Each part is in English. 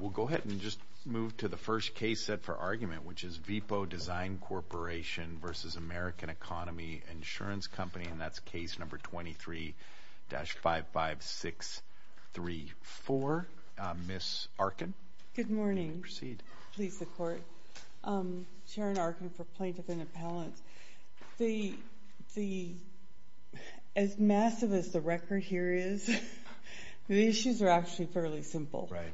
We'll go ahead and just move to the first case set for argument, which is Vepo Design Corporation v. American Economy Insurance Company, and that's case number 23-55634. Ms. Arkin. Good morning. Please proceed. Please support. Sharon Arkin for Plaintiff and Appellants. The – as massive as the record here is, the issues are actually fairly simple. Right.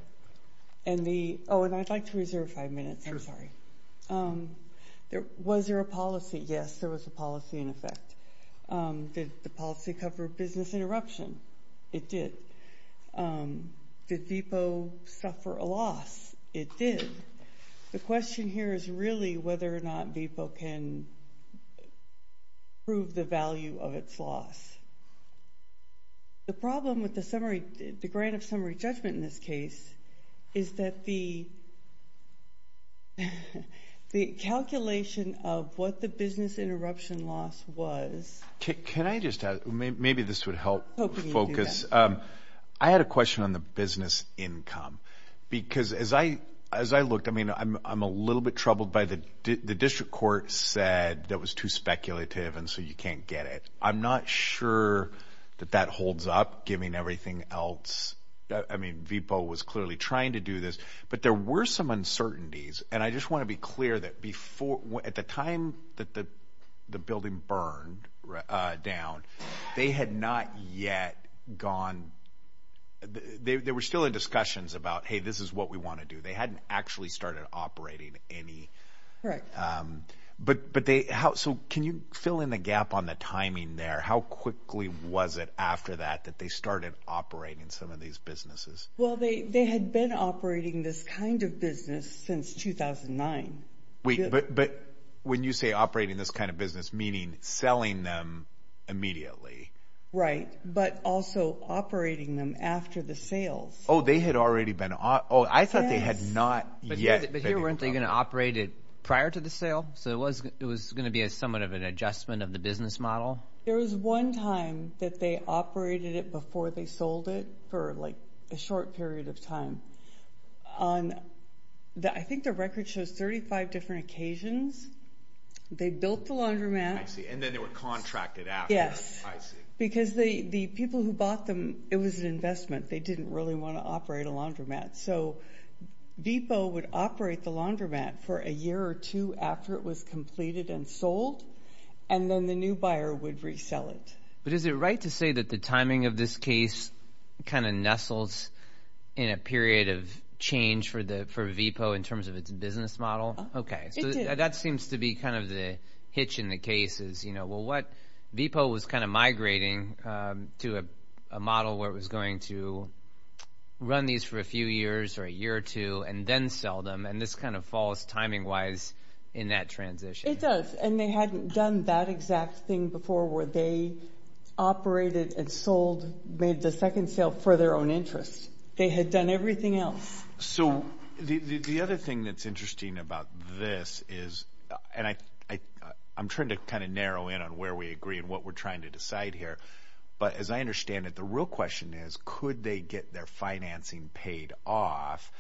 And the – oh, and I'd like to reserve five minutes. Sure. I'm sorry. Was there a policy? Yes, there was a policy in effect. Did the policy cover business interruption? It did. Did Vepo suffer a loss? It did. The question here is really whether or not Vepo can prove the value of its loss. The problem with the grant of summary judgment in this case is that the calculation of what the business interruption loss was. Can I just – maybe this would help focus. I had a question on the business income, because as I looked – I mean, I'm a little bit troubled by the district court said that was too speculative and so you can't get it. I'm not sure that that holds up, giving everything else. I mean, Vepo was clearly trying to do this. But there were some uncertainties, and I just want to be clear that before – at the time that the building burned down, they had not yet gone – they were still in discussions about, hey, this is what we want to do. They hadn't actually started operating any. But they – so can you fill in the gap on the timing there? How quickly was it after that that they started operating some of these businesses? Well, they had been operating this kind of business since 2009. But when you say operating this kind of business, meaning selling them immediately. Right, but also operating them after the sales. Oh, they had already been – oh, I thought they had not yet. But here weren't they going to operate it prior to the sale? So it was going to be somewhat of an adjustment of the business model? There was one time that they operated it before they sold it for a short period of time. I think the record shows 35 different occasions. They built the laundromat. I see, and then they were contracted after. Yes, because the people who bought them, it was an investment. They didn't really want to operate a laundromat. So Vepo would operate the laundromat for a year or two after it was completed and sold, and then the new buyer would resell it. But is it right to say that the timing of this case kind of nestles in a period of change for Vepo in terms of its business model? Okay, so that seems to be kind of the hitch in the case is, you know, well, Vepo was kind of migrating to a model where it was going to run these for a few years or a year or two and then sell them, and this kind of falls timing-wise in that transition. It does, and they hadn't done that exact thing before where they operated and sold, made the second sale for their own interest. They had done everything else. So the other thing that's interesting about this is, and I'm trying to kind of narrow in on where we agree and what we're trying to decide here, but as I understand it, the real question is, could they get their financing paid off?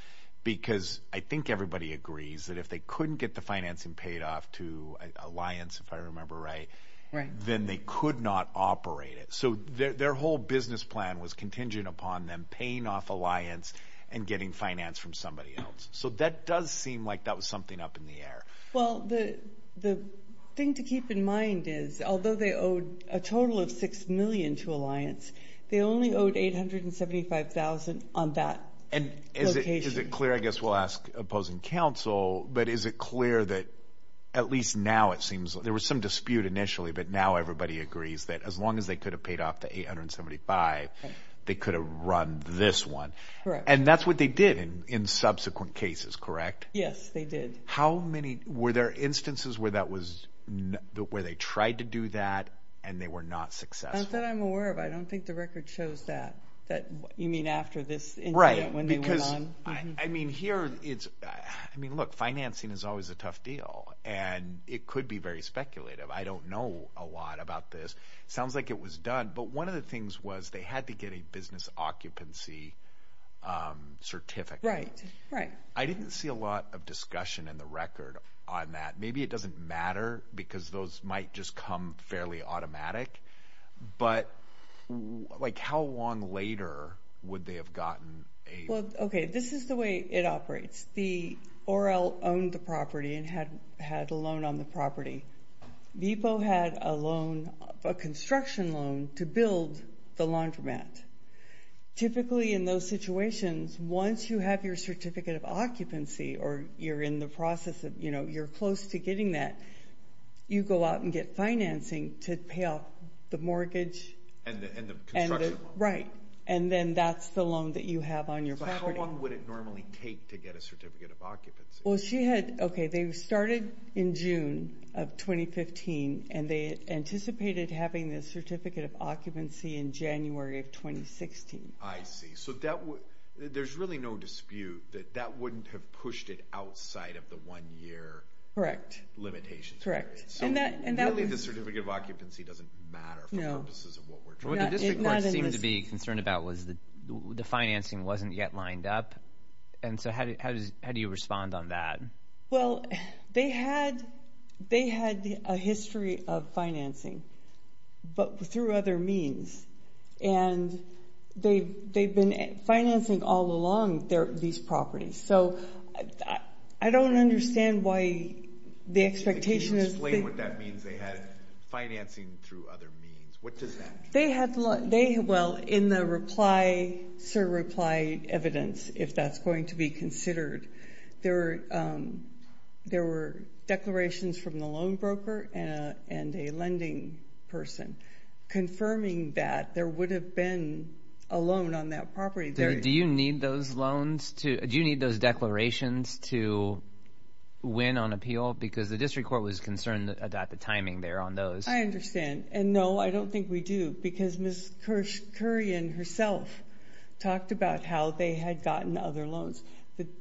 Because I think everybody agrees that if they couldn't get the financing paid off to Alliance, if I remember right, then they could not operate it. So their whole business plan was contingent upon them paying off Alliance and getting finance from somebody else. So that does seem like that was something up in the air. Well, the thing to keep in mind is, although they owed a total of $6 million to Alliance, they only owed $875,000 on that location. And is it clear, I guess we'll ask opposing counsel, but is it clear that at least now it seems there was some dispute initially, but now everybody agrees that as long as they could have paid off the $875,000, they could have run this one? Correct. And that's what they did in subsequent cases, correct? Yes, they did. Were there instances where they tried to do that and they were not successful? Not that I'm aware of. I don't think the record shows that. You mean after this incident when they went on? Right. I mean, look, financing is always a tough deal, and it could be very speculative. I don't know a lot about this. It sounds like it was done. But one of the things was they had to get a business occupancy certificate. Right, right. I didn't see a lot of discussion in the record on that. Maybe it doesn't matter because those might just come fairly automatic. But, like, how long later would they have gotten a… Well, okay, this is the way it operates. The ORL owned the property and had a loan on the property. VEPO had a loan, a construction loan, to build the laundromat. Typically in those situations, once you have your certificate of occupancy or you're in the process of, you know, you're close to getting that, you go out and get financing to pay off the mortgage. And the construction loan. Right. And then that's the loan that you have on your property. So how long would it normally take to get a certificate of occupancy? Well, she had, okay, they started in June of 2015, and they anticipated having the certificate of occupancy in January of 2016. I see. So there's really no dispute that that wouldn't have pushed it outside of the one-year limitations. So really the certificate of occupancy doesn't matter for purposes of what we're trying to do. What the district court seemed to be concerned about was the financing wasn't yet lined up. And so how do you respond on that? Well, they had a history of financing, but through other means. And they've been financing all along these properties. So I don't understand why the expectation is that... Can you explain what that means, they had financing through other means? What does that mean? Well, in the reply evidence, if that's going to be considered, there were declarations from the loan broker and a lending person confirming that there would have been a loan on that property. Do you need those declarations to win on appeal? Because the district court was concerned about the timing there on those. I understand. And no, I don't think we do. Because Ms. Kurian herself talked about how they had gotten other loans.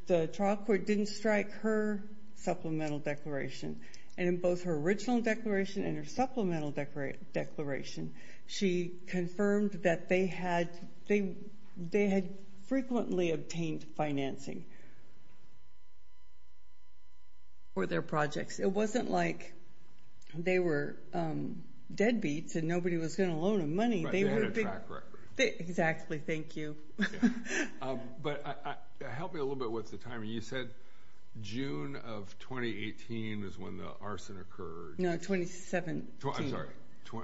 The trial court didn't strike her supplemental declaration. And in both her original declaration and her supplemental declaration, she confirmed that they had frequently obtained financing for their projects. It wasn't like they were deadbeats and nobody was going to loan them money. But they had a track record. Exactly, thank you. But help me a little bit with the timing. You said June of 2018 was when the arson occurred. No, 2017. I'm sorry,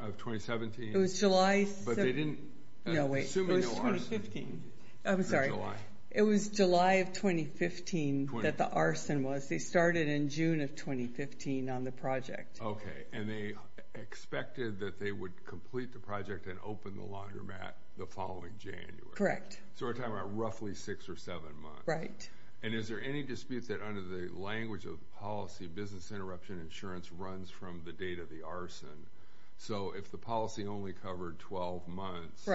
of 2017? It was July. But they didn't... No, wait. Assuming no arson. I'm sorry. It was July. It was July of 2015 that the arson was. They started in June of 2015 on the project. And they expected that they would complete the project and open the laundromat the following January. Correct. So we're talking about roughly six or seven months. Right. And is there any dispute that under the language of policy, business interruption insurance runs from the date of the arson? So if the policy only covered 12 months,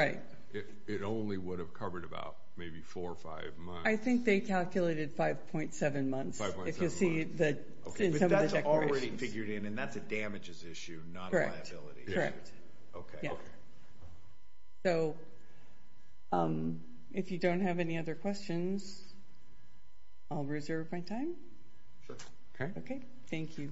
it only would have covered about maybe four or five months. I think they calculated 5.7 months. If you'll see in some of the declarations. But that's already figured in and that's a damages issue, not a liability issue. Correct, correct. Okay. Yeah. So if you don't have any other questions, I'll reserve my time. Sure. Okay. Okay, thank you.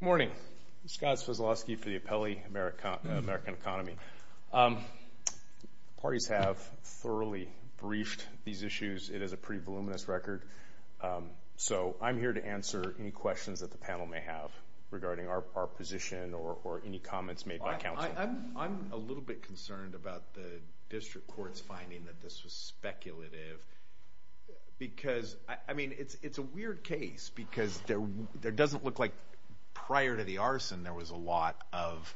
Good morning. Scott Svezloski for the Appellee American Economy. Parties have thoroughly briefed these issues. It is a pretty voluminous record. So I'm here to answer any questions that the panel may have regarding our position or any comments made by counsel. I'm a little bit concerned about the district court's finding that this was speculative because, I mean, it's a weird case because there doesn't look like prior to the arson there was a lot of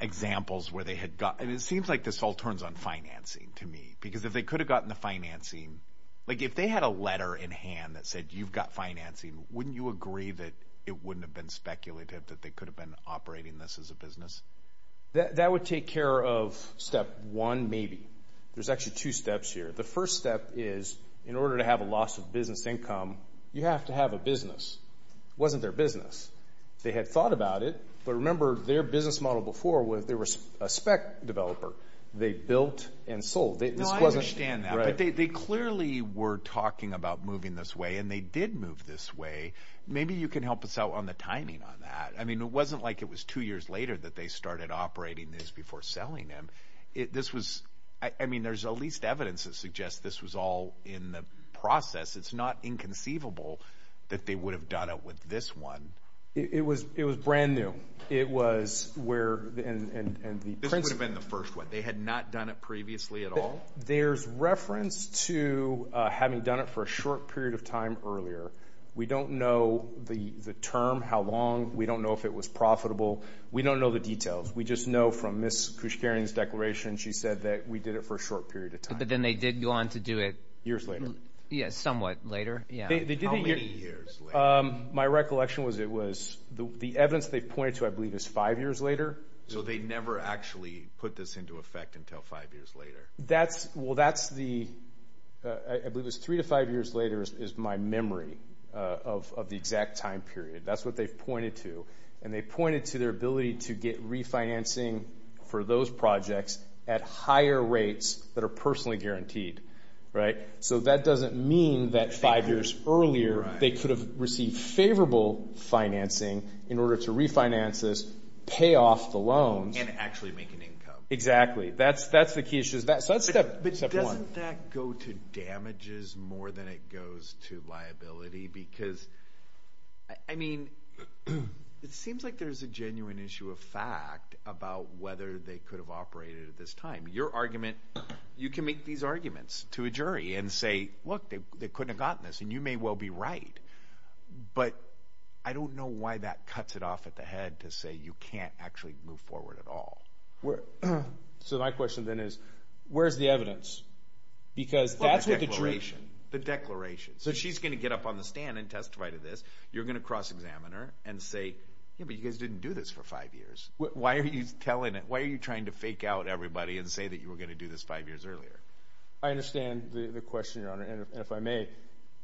examples where they had gotten. It seems like this all turns on financing to me because if they could have gotten the financing, like if they had a letter in hand that said you've got financing, wouldn't you agree that it wouldn't have been speculative that they could have been operating this as a business? That would take care of step one maybe. There's actually two steps here. The first step is in order to have a loss of business income, you have to have a business. It wasn't their business. They had thought about it, but remember their business model before was they were a spec developer. They built and sold. No, I understand that. Right. But they clearly were talking about moving this way, and they did move this way. Maybe you can help us out on the timing on that. I mean, it wasn't like it was two years later that they started operating this before selling them. This was, I mean, there's at least evidence that suggests this was all in the process. It's not inconceivable that they would have done it with this one. It was brand new. It was where, and the principle. This would have been the first one. They had not done it previously at all? There's reference to having done it for a short period of time earlier. We don't know the term, how long. We don't know if it was profitable. We don't know the details. We just know from Ms. Kushkarian's declaration she said that we did it for a short period of time. But then they did go on to do it? Years later. Yes, somewhat later. How many years later? My recollection was it was, the evidence they pointed to I believe is five years later. So they never actually put this into effect until five years later? Well, that's the, I believe it was three to five years later is my memory of the exact time period. That's what they've pointed to. And they pointed to their ability to get refinancing for those projects at higher rates that are personally guaranteed. So that doesn't mean that five years earlier they could have received favorable financing in order to refinance this, pay off the loans. And actually make an income. Exactly. That's the key issue. So that's step one. But doesn't that go to damages more than it goes to liability? Because, I mean, it seems like there's a genuine issue of fact about whether they could have operated at this time. Your argument, you can make these arguments to a jury and say, look, they couldn't have gotten this, and you may well be right. But I don't know why that cuts it off at the head to say you can't actually move forward at all. So my question then is, where's the evidence? Because that's what the jury – The declaration. The declaration. So she's going to get up on the stand and testify to this. You're going to cross-examine her and say, yeah, but you guys didn't do this for five years. Why are you telling it? Why are you trying to fake out everybody and say that you were going to do this five years earlier? I understand the question, Your Honor, and if I may,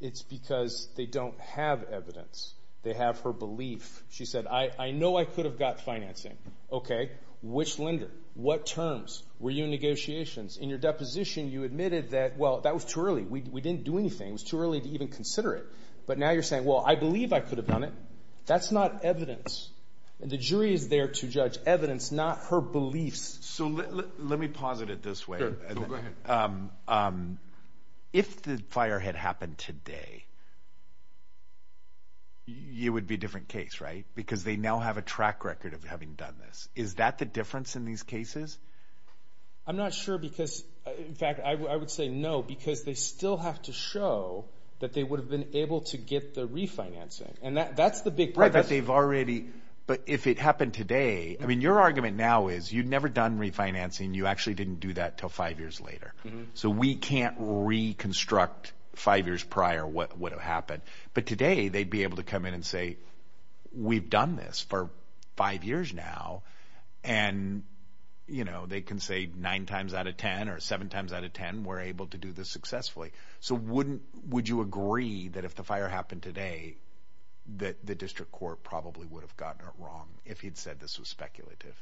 it's because they don't have evidence. They have her belief. She said, I know I could have got financing. Okay. Which lender? What terms? Were you in negotiations? In your deposition, you admitted that, well, that was too early. We didn't do anything. It was too early to even consider it. But now you're saying, well, I believe I could have done it. That's not evidence. And the jury is there to judge evidence, not her beliefs. So let me posit it this way. Go ahead. If the fire had happened today, it would be a different case, right? Because they now have a track record of having done this. Is that the difference in these cases? I'm not sure because, in fact, I would say no because they still have to show that they would have been able to get the refinancing. And that's the big part. Right, but they've already – but if it happened today, I mean, your argument now is you'd never done refinancing. You actually didn't do that until five years later. So we can't reconstruct five years prior what would have happened. But today they'd be able to come in and say, we've done this for five years now. And, you know, they can say nine times out of ten or seven times out of ten, we're able to do this successfully. So wouldn't – would you agree that if the fire happened today that the district court probably would have gotten it wrong if he'd said this was speculative?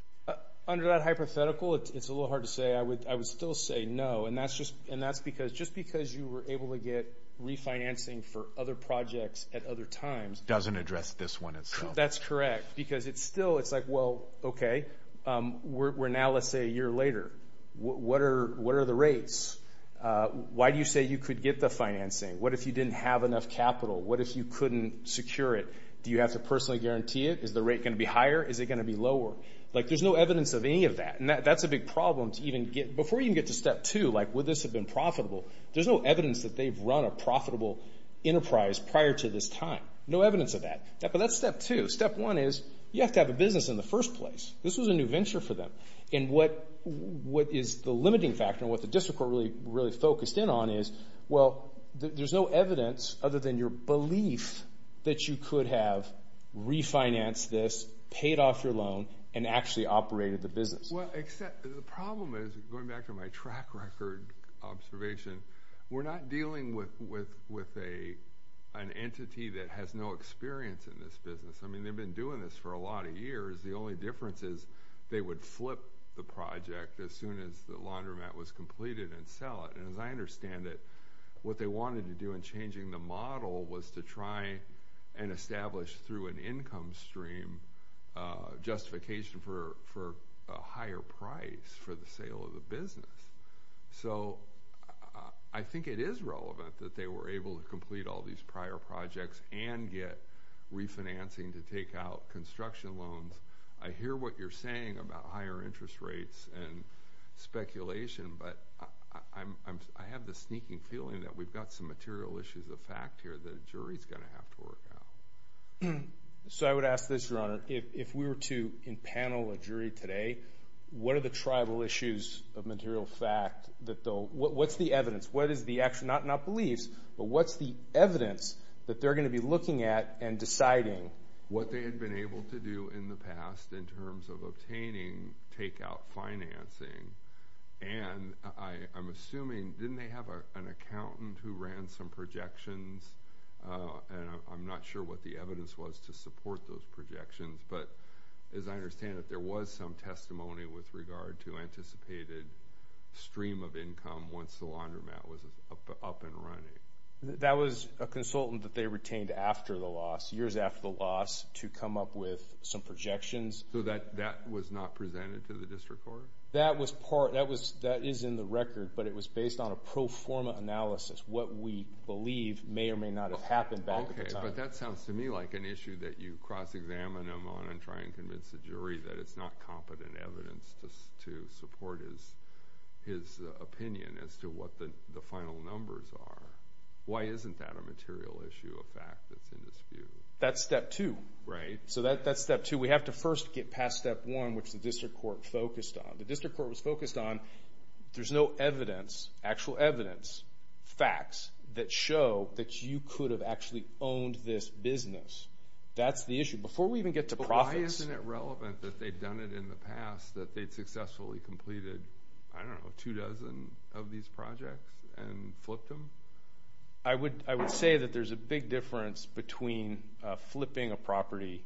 Under that hypothetical, it's a little hard to say. I would still say no. And that's just – and that's because – just because you were able to get refinancing for other projects at other times. Doesn't address this one itself. That's correct because it's still – it's like, well, okay, we're now, let's say, a year later. What are the rates? Why do you say you could get the financing? What if you didn't have enough capital? What if you couldn't secure it? Do you have to personally guarantee it? Is the rate going to be higher? Is it going to be lower? Like, there's no evidence of any of that. And that's a big problem to even get – before you even get to step two, like would this have been profitable, there's no evidence that they've run a profitable enterprise prior to this time. No evidence of that. But that's step two. Step one is you have to have a business in the first place. This was a new venture for them. And what is the limiting factor and what the district court really focused in on is, well, there's no evidence other than your belief that you could have refinanced this, paid off your loan, and actually operated the business. Well, except the problem is, going back to my track record observation, we're not dealing with an entity that has no experience in this business. I mean, they've been doing this for a lot of years. The only difference is they would flip the project as soon as the laundromat was completed and sell it. And as I understand it, what they wanted to do in changing the model was to try and establish through an income stream justification for a higher price for the sale of the business. So I think it is relevant that they were able to complete all these prior projects and get refinancing to take out construction loans. I hear what you're saying about higher interest rates and speculation, but I have the sneaking feeling that we've got some material issues of fact here that a jury is going to have to work out. So I would ask this, Your Honor. If we were to panel a jury today, what are the tribal issues of material fact? What's the evidence? Not beliefs, but what's the evidence that they're going to be looking at and deciding what they had been able to do in the past in terms of obtaining takeout financing and I'm assuming didn't they have an accountant who ran some projections? And I'm not sure what the evidence was to support those projections, but as I understand it, there was some testimony with regard to anticipated stream of income once the laundromat was up and running. That was a consultant that they retained after the loss, years after the loss, to come up with some projections. So that was not presented to the district court? That is in the record, but it was based on a pro forma analysis, what we believe may or may not have happened back at the time. Okay, but that sounds to me like an issue that you cross-examine them on and try and convince the jury that it's not competent evidence to support his opinion as to what the final numbers are. Why isn't that a material issue of fact that's in dispute? That's step two. Right. So that's step two. So we have to first get past step one, which the district court focused on. The district court was focused on there's no evidence, actual evidence, facts that show that you could have actually owned this business. That's the issue. Before we even get to profits. But why isn't it relevant that they'd done it in the past, that they'd successfully completed, I don't know, two dozen of these projects and flipped them? I would say that there's a big difference between flipping a property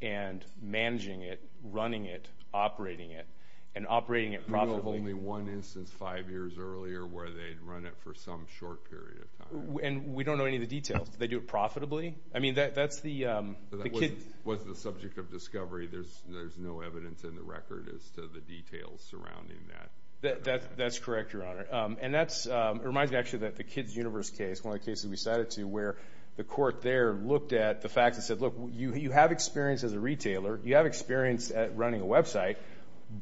and managing it, running it, operating it, and operating it profitably. We know of only one instance five years earlier where they'd run it for some short period of time. And we don't know any of the details. Did they do it profitably? I mean, that's the kids. That wasn't the subject of discovery. There's no evidence in the record as to the details surrounding that. That's correct, Your Honor. And that reminds me, actually, that the Kids Universe case, one of the cases we cited to where the court there looked at the facts and said, look, you have experience as a retailer. You have experience at running a website.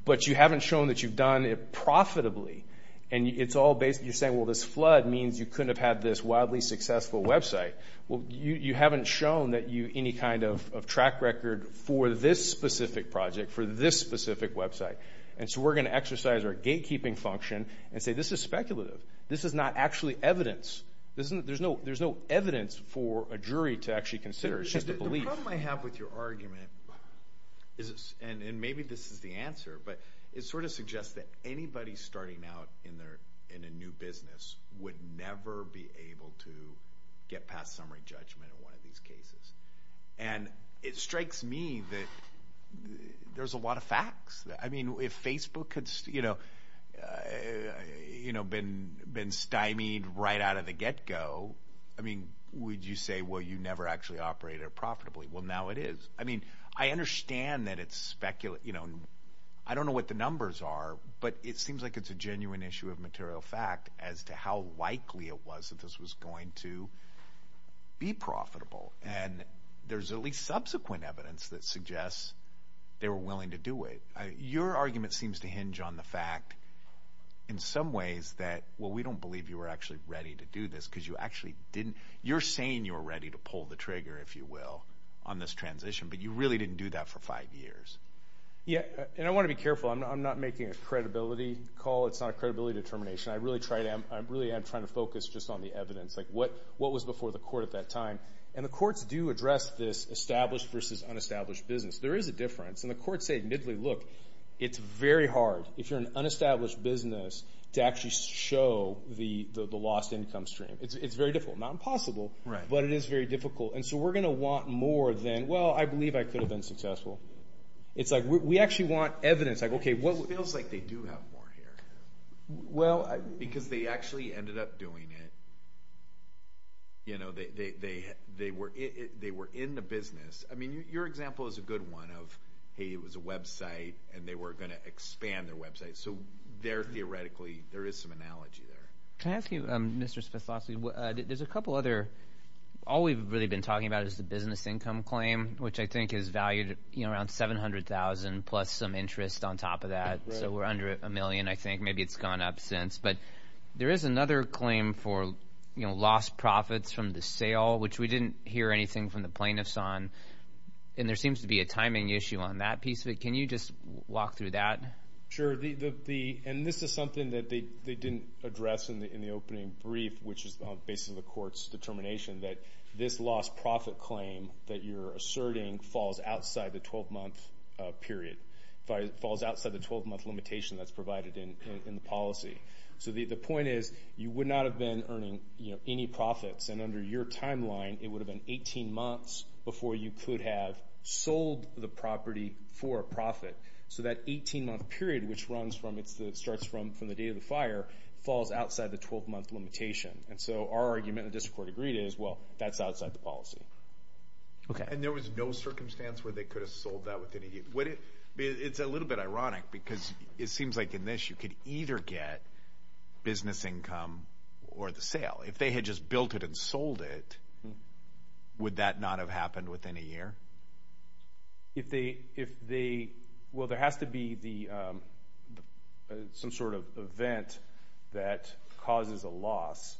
But you haven't shown that you've done it profitably. And it's all basically you're saying, well, this flood means you couldn't have had this wildly successful website. Well, you haven't shown any kind of track record for this specific project, for this specific website. And so we're going to exercise our gatekeeping function and say, this is speculative. This is not actually evidence. There's no evidence for a jury to actually consider. It's just a belief. The problem I have with your argument, and maybe this is the answer, but it sort of suggests that anybody starting out in a new business would never be able to get past summary judgment in one of these cases. And it strikes me that there's a lot of facts. I mean, if Facebook had been stymied right out of the get-go, I mean, would you say, well, you never actually operated profitably? Well, now it is. I mean, I understand that it's speculative. I don't know what the numbers are, but it seems like it's a genuine issue of material fact as to how likely it was that this was going to be profitable. And there's at least subsequent evidence that suggests they were willing to do it. Your argument seems to hinge on the fact, in some ways, that, well, we don't believe you were actually ready to do this because you actually didn't. You're saying you were ready to pull the trigger, if you will, on this transition, but you really didn't do that for five years. Yeah, and I want to be careful. I'm not making a credibility call. It's not a credibility determination. I really am trying to focus just on the evidence, like what was before the court at that time. And the courts do address this established versus unestablished business. There is a difference. And the courts say, admittedly, look, it's very hard, if you're an unestablished business, to actually show the lost income stream. It's very difficult. Not impossible, but it is very difficult. And so we're going to want more than, well, I believe I could have been successful. It's like we actually want evidence. It feels like they do have more here because they actually ended up doing it. You know, they were in the business. I mean, your example is a good one of, hey, it was a website, and they were going to expand their website. So there, theoretically, there is some analogy there. Can I ask you, Mr. Spasso, there's a couple other. All we've really been talking about is the business income claim, which I think is valued at around $700,000 plus some interest on top of that. So we're under a million, I think. Maybe it's gone up since. But there is another claim for lost profits from the sale, which we didn't hear anything from the plaintiffs on. And there seems to be a timing issue on that piece of it. Can you just walk through that? And this is something that they didn't address in the opening brief, which is on the basis of the court's determination, that this lost profit claim that you're asserting falls outside the 12-month period, falls outside the 12-month limitation that's provided in the policy. So the point is, you would not have been earning any profits. And under your timeline, it would have been 18 months before you could have sold the property for a profit. So that 18-month period, which starts from the date of the fire, falls outside the 12-month limitation. And so our argument, and the district court agreed, is, well, that's outside the policy. And there was no circumstance where they could have sold that within a year. It's a little bit ironic, because it seems like in this, you could either get business income or the sale. If they had just built it and sold it, would that not have happened within a year? Well, there has to be some sort of event that causes a loss.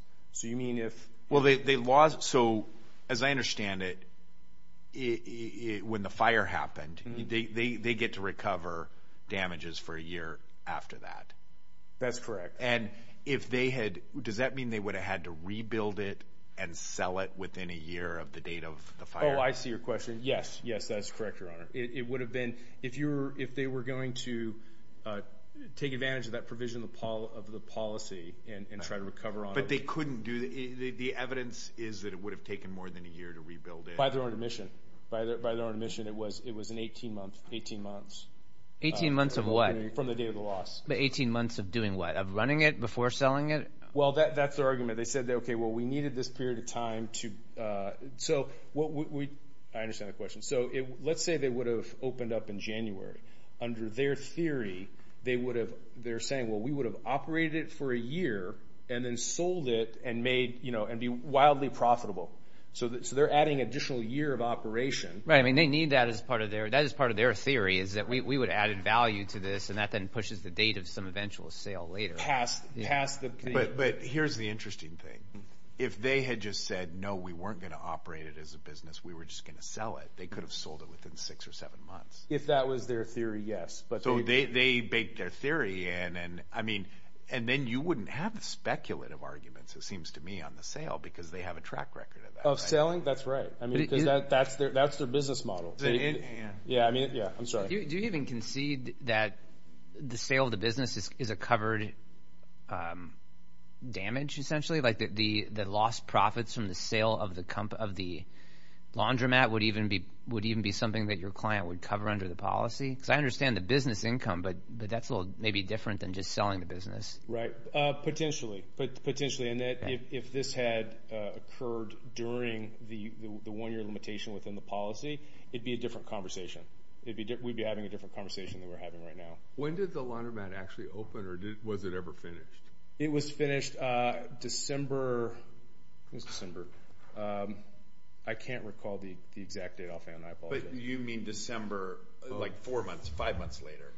Well, so as I understand it, when the fire happened, they get to recover damages for a year after that. That's correct. And if they had, does that mean they would have had to rebuild it and sell it within a year of the date of the fire? Oh, I see your question. Yes, yes, that's correct, Your Honor. It would have been, if they were going to take advantage of that provision of the policy and try to recover on it. But they couldn't do that. The evidence is that it would have taken more than a year to rebuild it. By their own admission. By their own admission, it was an 18-month, 18 months. 18 months of what? From the date of the loss. But 18 months of doing what? Of running it before selling it? Well, that's their argument. They said, okay, well, we needed this period of time to, so what we, I understand the question. So let's say they would have opened up in January. Under their theory, they would have, they're saying, well, we would have operated it for a year and then sold it and made, you know, and be wildly profitable. So they're adding additional year of operation. Right, I mean, they need that as part of their, that is part of their theory, is that we would have added value to this and that then pushes the date of some eventual sale later. Past, past the. But here's the interesting thing. If they had just said, no, we weren't going to operate it as a business, we were just going to sell it, they could have sold it within six or seven months. If that was their theory, yes. So they baked their theory in and, I mean, and then you wouldn't have speculative arguments, it seems to me, on the sale because they have a track record of that. Of selling? That's right. I mean, because that's their business model. Yeah, I mean, yeah. I'm sorry. Do you even concede that the sale of the business is a covered damage, essentially? Like the lost profits from the sale of the laundromat would even be something that your client would cover under the policy? Because I understand the business income, but that's a little maybe different than just selling the business. Right. Potentially. Potentially. And that if this had occurred during the one-year limitation within the policy, it'd be a different conversation. We'd be having a different conversation than we're having right now. When did the laundromat actually open or was it ever finished? It was finished December. It was December. I can't recall the exact date offhand. I apologize. But you mean December, like four months, five months later?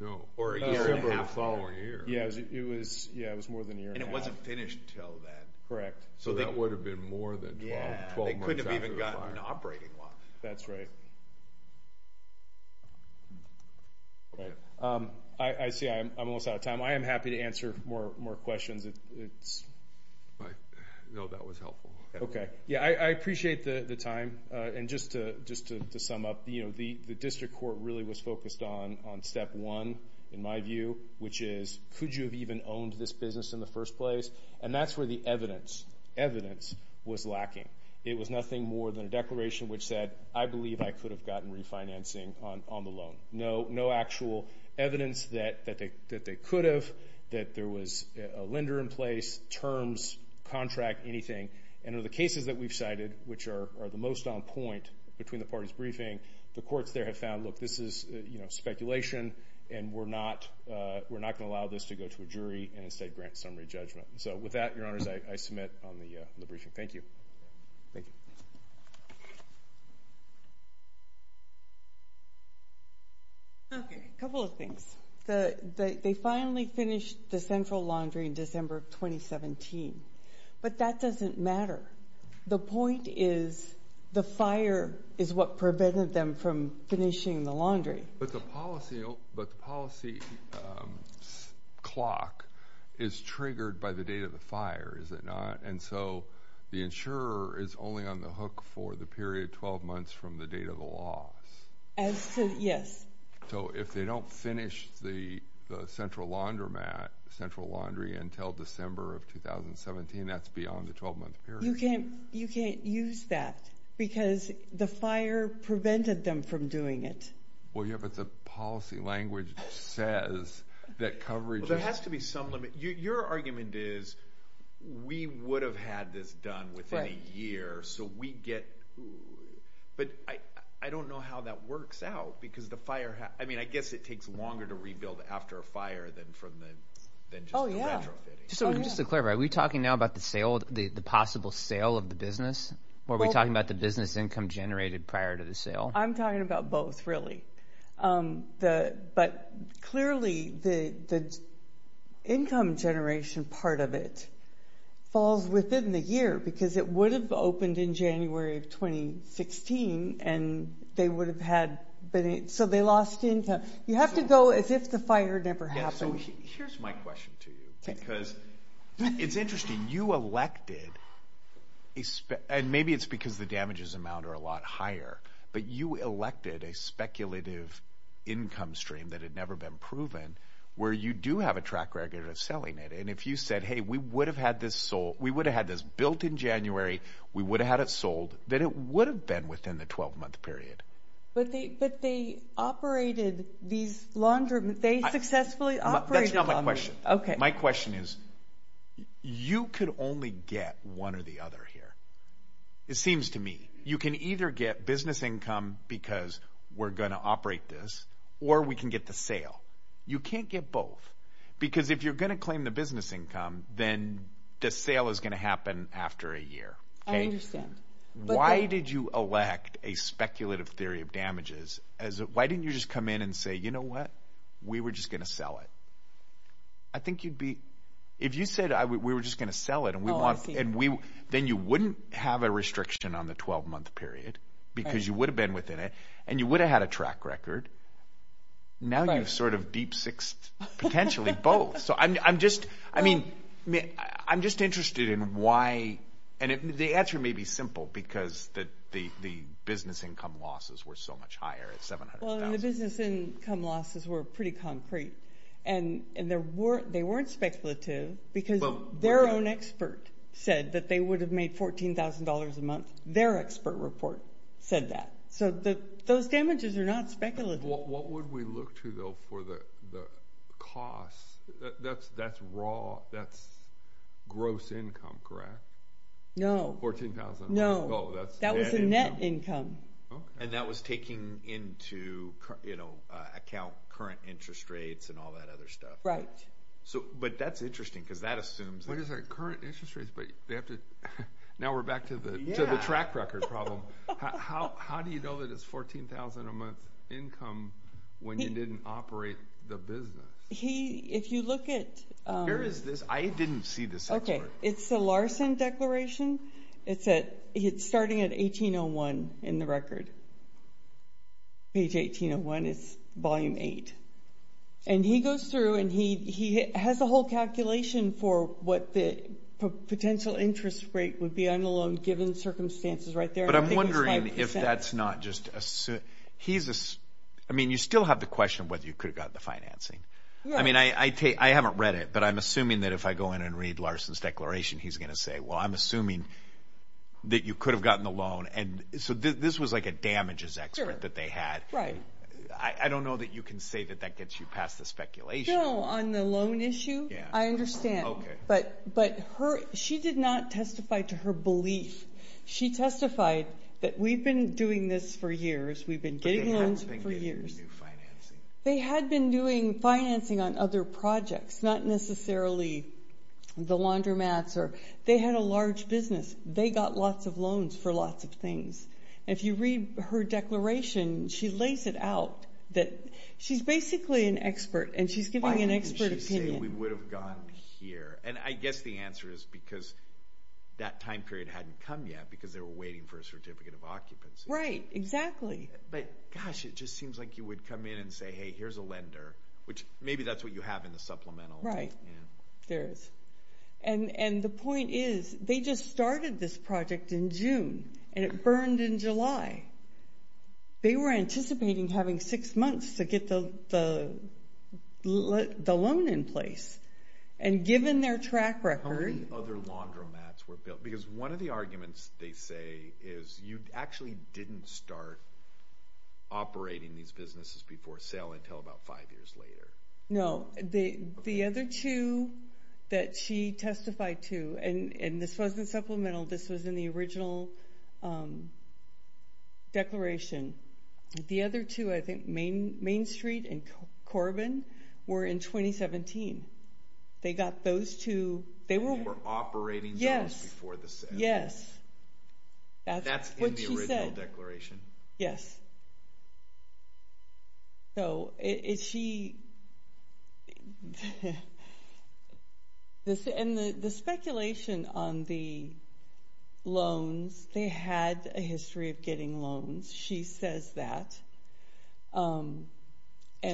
No. Or a year and a half later. Yeah, it was more than a year and a half. And it wasn't finished until then. Correct. So that would have been more than 12 months after the fire. Yeah, they couldn't have even gotten an operating loss. That's right. I see I'm almost out of time. I am happy to answer more questions. No, that was helpful. Okay. Yeah, I appreciate the time. And just to sum up, the district court really was focused on step one, in my view, which is, could you have even owned this business in the first place? And that's where the evidence was lacking. It was nothing more than a declaration which said, I believe I could have gotten refinancing on the loan. No actual evidence that they could have, that there was a lender in place, terms, contract, anything. And of the cases that we've cited, which are the most on point between the parties briefing, the courts there have found, look, this is speculation, and we're not going to allow this to go to a jury and instead grant summary judgment. So with that, Your Honors, I submit on the briefing. Thank you. Thank you. Okay. A couple of things. They finally finished the central laundry in December of 2017. But that doesn't matter. The point is the fire is what prevented them from finishing the laundry. But the policy clock is triggered by the date of the fire, is it not? And so the insurer is only on the hook for the period 12 months from the date of the loss. Yes. So if they don't finish the central laundromat, central laundry, until December of 2017, that's beyond the 12-month period. You can't use that because the fire prevented them from doing it. Well, yeah, but the policy language says that coverage – Well, there has to be some limit. Your argument is we would have had this done within a year, so we get – But I don't know how that works out because the fire – I mean, I guess it takes longer to rebuild after a fire than just the retrofitting. Oh, yeah. Just to clarify, are we talking now about the sale, the possible sale of the business, or are we talking about the business income generated prior to the sale? I'm talking about both, really. But clearly the income generation part of it falls within the year because it would have opened in January of 2016, and they would have had – so they lost income. You have to go as if the fire never happened. Yeah, so here's my question to you because it's interesting. You elected – and maybe it's because the damages amount are a lot higher, but you elected a speculative income stream that had never been proven where you do have a track record of selling it. And if you said, hey, we would have had this built in January, we would have had it sold, then it would have been within the 12-month period. But they operated these laundry – they successfully operated laundry. That's not my question. Okay. My question is you could only get one or the other here. It seems to me you can either get business income because we're going to operate this or we can get the sale. You can't get both because if you're going to claim the business income, then the sale is going to happen after a year. Why did you elect a speculative theory of damages? Why didn't you just come in and say, you know what, we were just going to sell it? I think you'd be – if you said we were just going to sell it and we want – then you wouldn't have a restriction on the 12-month period because you would have been within it and you would have had a track record. Now you've sort of deep-sixed potentially both. So I'm just interested in why – and the answer may be simple because the business income losses were so much higher at $700,000. Well, the business income losses were pretty concrete, and they weren't speculative because their own expert said that they would have made $14,000 a month. Their expert report said that. So those damages are not speculative. What would we look to, though, for the cost? That's gross income, correct? No. $14,000 a month. No. That was the net income. And that was taking into account current interest rates and all that other stuff. Right. But that's interesting because that assumes – What is that, current interest rates? Now we're back to the track record problem. How do you know that it's $14,000 a month income when you didn't operate the business? If you look at – Where is this? I didn't see this expert. It's the Larson Declaration. It's starting at 1801 in the record. Page 1801. It's Volume 8. And he goes through and he has a whole calculation for what the potential interest rate would be on the loan given the circumstances right there. But I'm wondering if that's not just – I mean, you still have the question of whether you could have gotten the financing. I mean, I haven't read it, but I'm assuming that if I go in and read Larson's declaration, he's going to say, well, I'm assuming that you could have gotten the loan. So this was like a damages expert that they had. Right. I don't know that you can say that that gets you past the speculation. No, on the loan issue, I understand. But she did not testify to her belief. She testified that we've been doing this for years. We've been getting loans for years. They had been doing financing on other projects, not necessarily the laundromats. They had a large business. They got lots of loans for lots of things. If you read her declaration, she lays it out that she's basically an expert, and she's giving an expert opinion. Why did she say we would have gotten here? And I guess the answer is because that time period hadn't come yet because they were waiting for a certificate of occupancy. Right, exactly. But, gosh, it just seems like you would come in and say, hey, here's a lender, which maybe that's what you have in the supplemental. There is. And the point is they just started this project in June, and it burned in July. They were anticipating having six months to get the loan in place. And given their track record— How many other laundromats were built? Because one of the arguments they say is you actually didn't start operating these businesses before sale until about five years later. No. The other two that she testified to, and this wasn't supplemental. This was in the original declaration. The other two, I think Main Street and Corbin, were in 2017. They got those two— They were operating zones before the sale. Yes. That's what she said. That's in the original declaration. Yes. And the speculation on the loans, they had a history of getting loans. She says that. And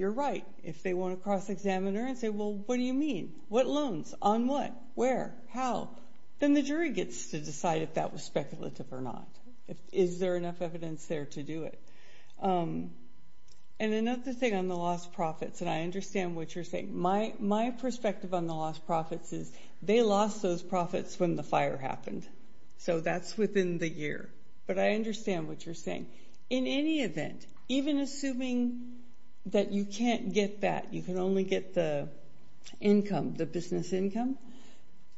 you're right. If they want to cross-examine her and say, well, what do you mean? What loans? On what? Where? How? Then the jury gets to decide if that was speculative or not. Is there enough evidence there to do it? And another thing on the lost profits, and I understand what you're saying. My perspective on the lost profits is they lost those profits when the fire happened. So that's within the year. But I understand what you're saying. In any event, even assuming that you can't get that, you can only get the income, the business income,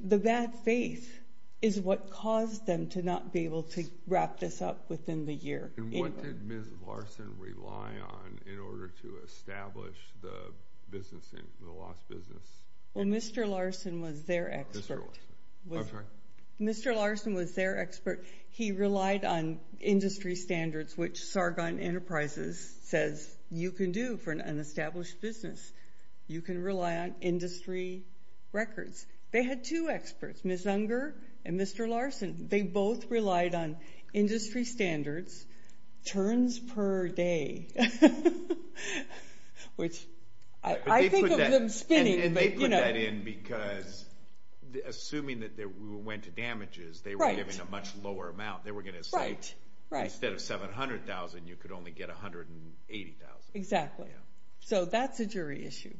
the bad faith is what caused them to not be able to wrap this up within the year. And what did Ms. Larson rely on in order to establish the business income, the lost business? Well, Mr. Larson was their expert. Mr. Larson. I'm sorry? Mr. Larson was their expert. He relied on industry standards, which Sargon Enterprises says you can do for an established business. You can rely on industry records. They had two experts, Ms. Unger and Mr. Larson. They both relied on industry standards, turns per day, which I think of them spinning. And they put that in because assuming that we went to damages, they were giving a much lower amount. They were going to say instead of $700,000, you could only get $180,000. Exactly. So that's a jury issue.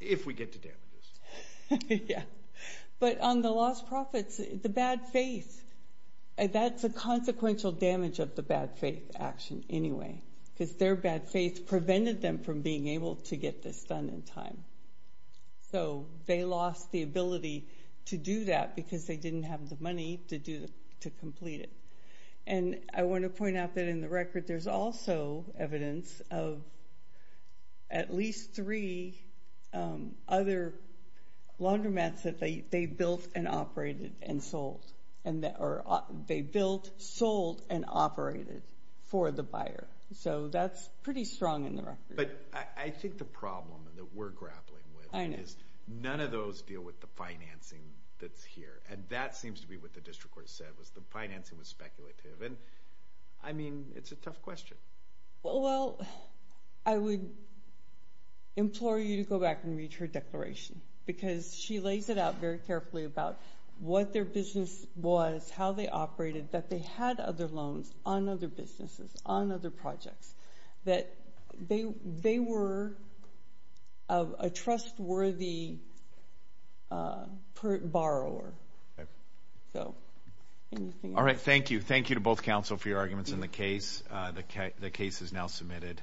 If we get to damages. Yeah. But on the lost profits, the bad faith, that's a consequential damage of the bad faith action anyway because their bad faith prevented them from being able to get this done in time. So they lost the ability to do that because they didn't have the money to complete it. And I want to point out that in the record there's also evidence of at least three other laundromats that they built and operated and sold, or they built, sold, and operated for the buyer. So that's pretty strong in the record. But I think the problem that we're grappling with is none of those deal with the financing that's here. And that seems to be what the district court said was the financing was speculative. And, I mean, it's a tough question. Well, I would implore you to go back and read her declaration because she lays it out very carefully about what their business was, how they operated, that they had other loans on other businesses, on other projects, that they were a trustworthy borrower. All right. Thank you. Thank you to both counsel for your arguments in the case. The case is now submitted.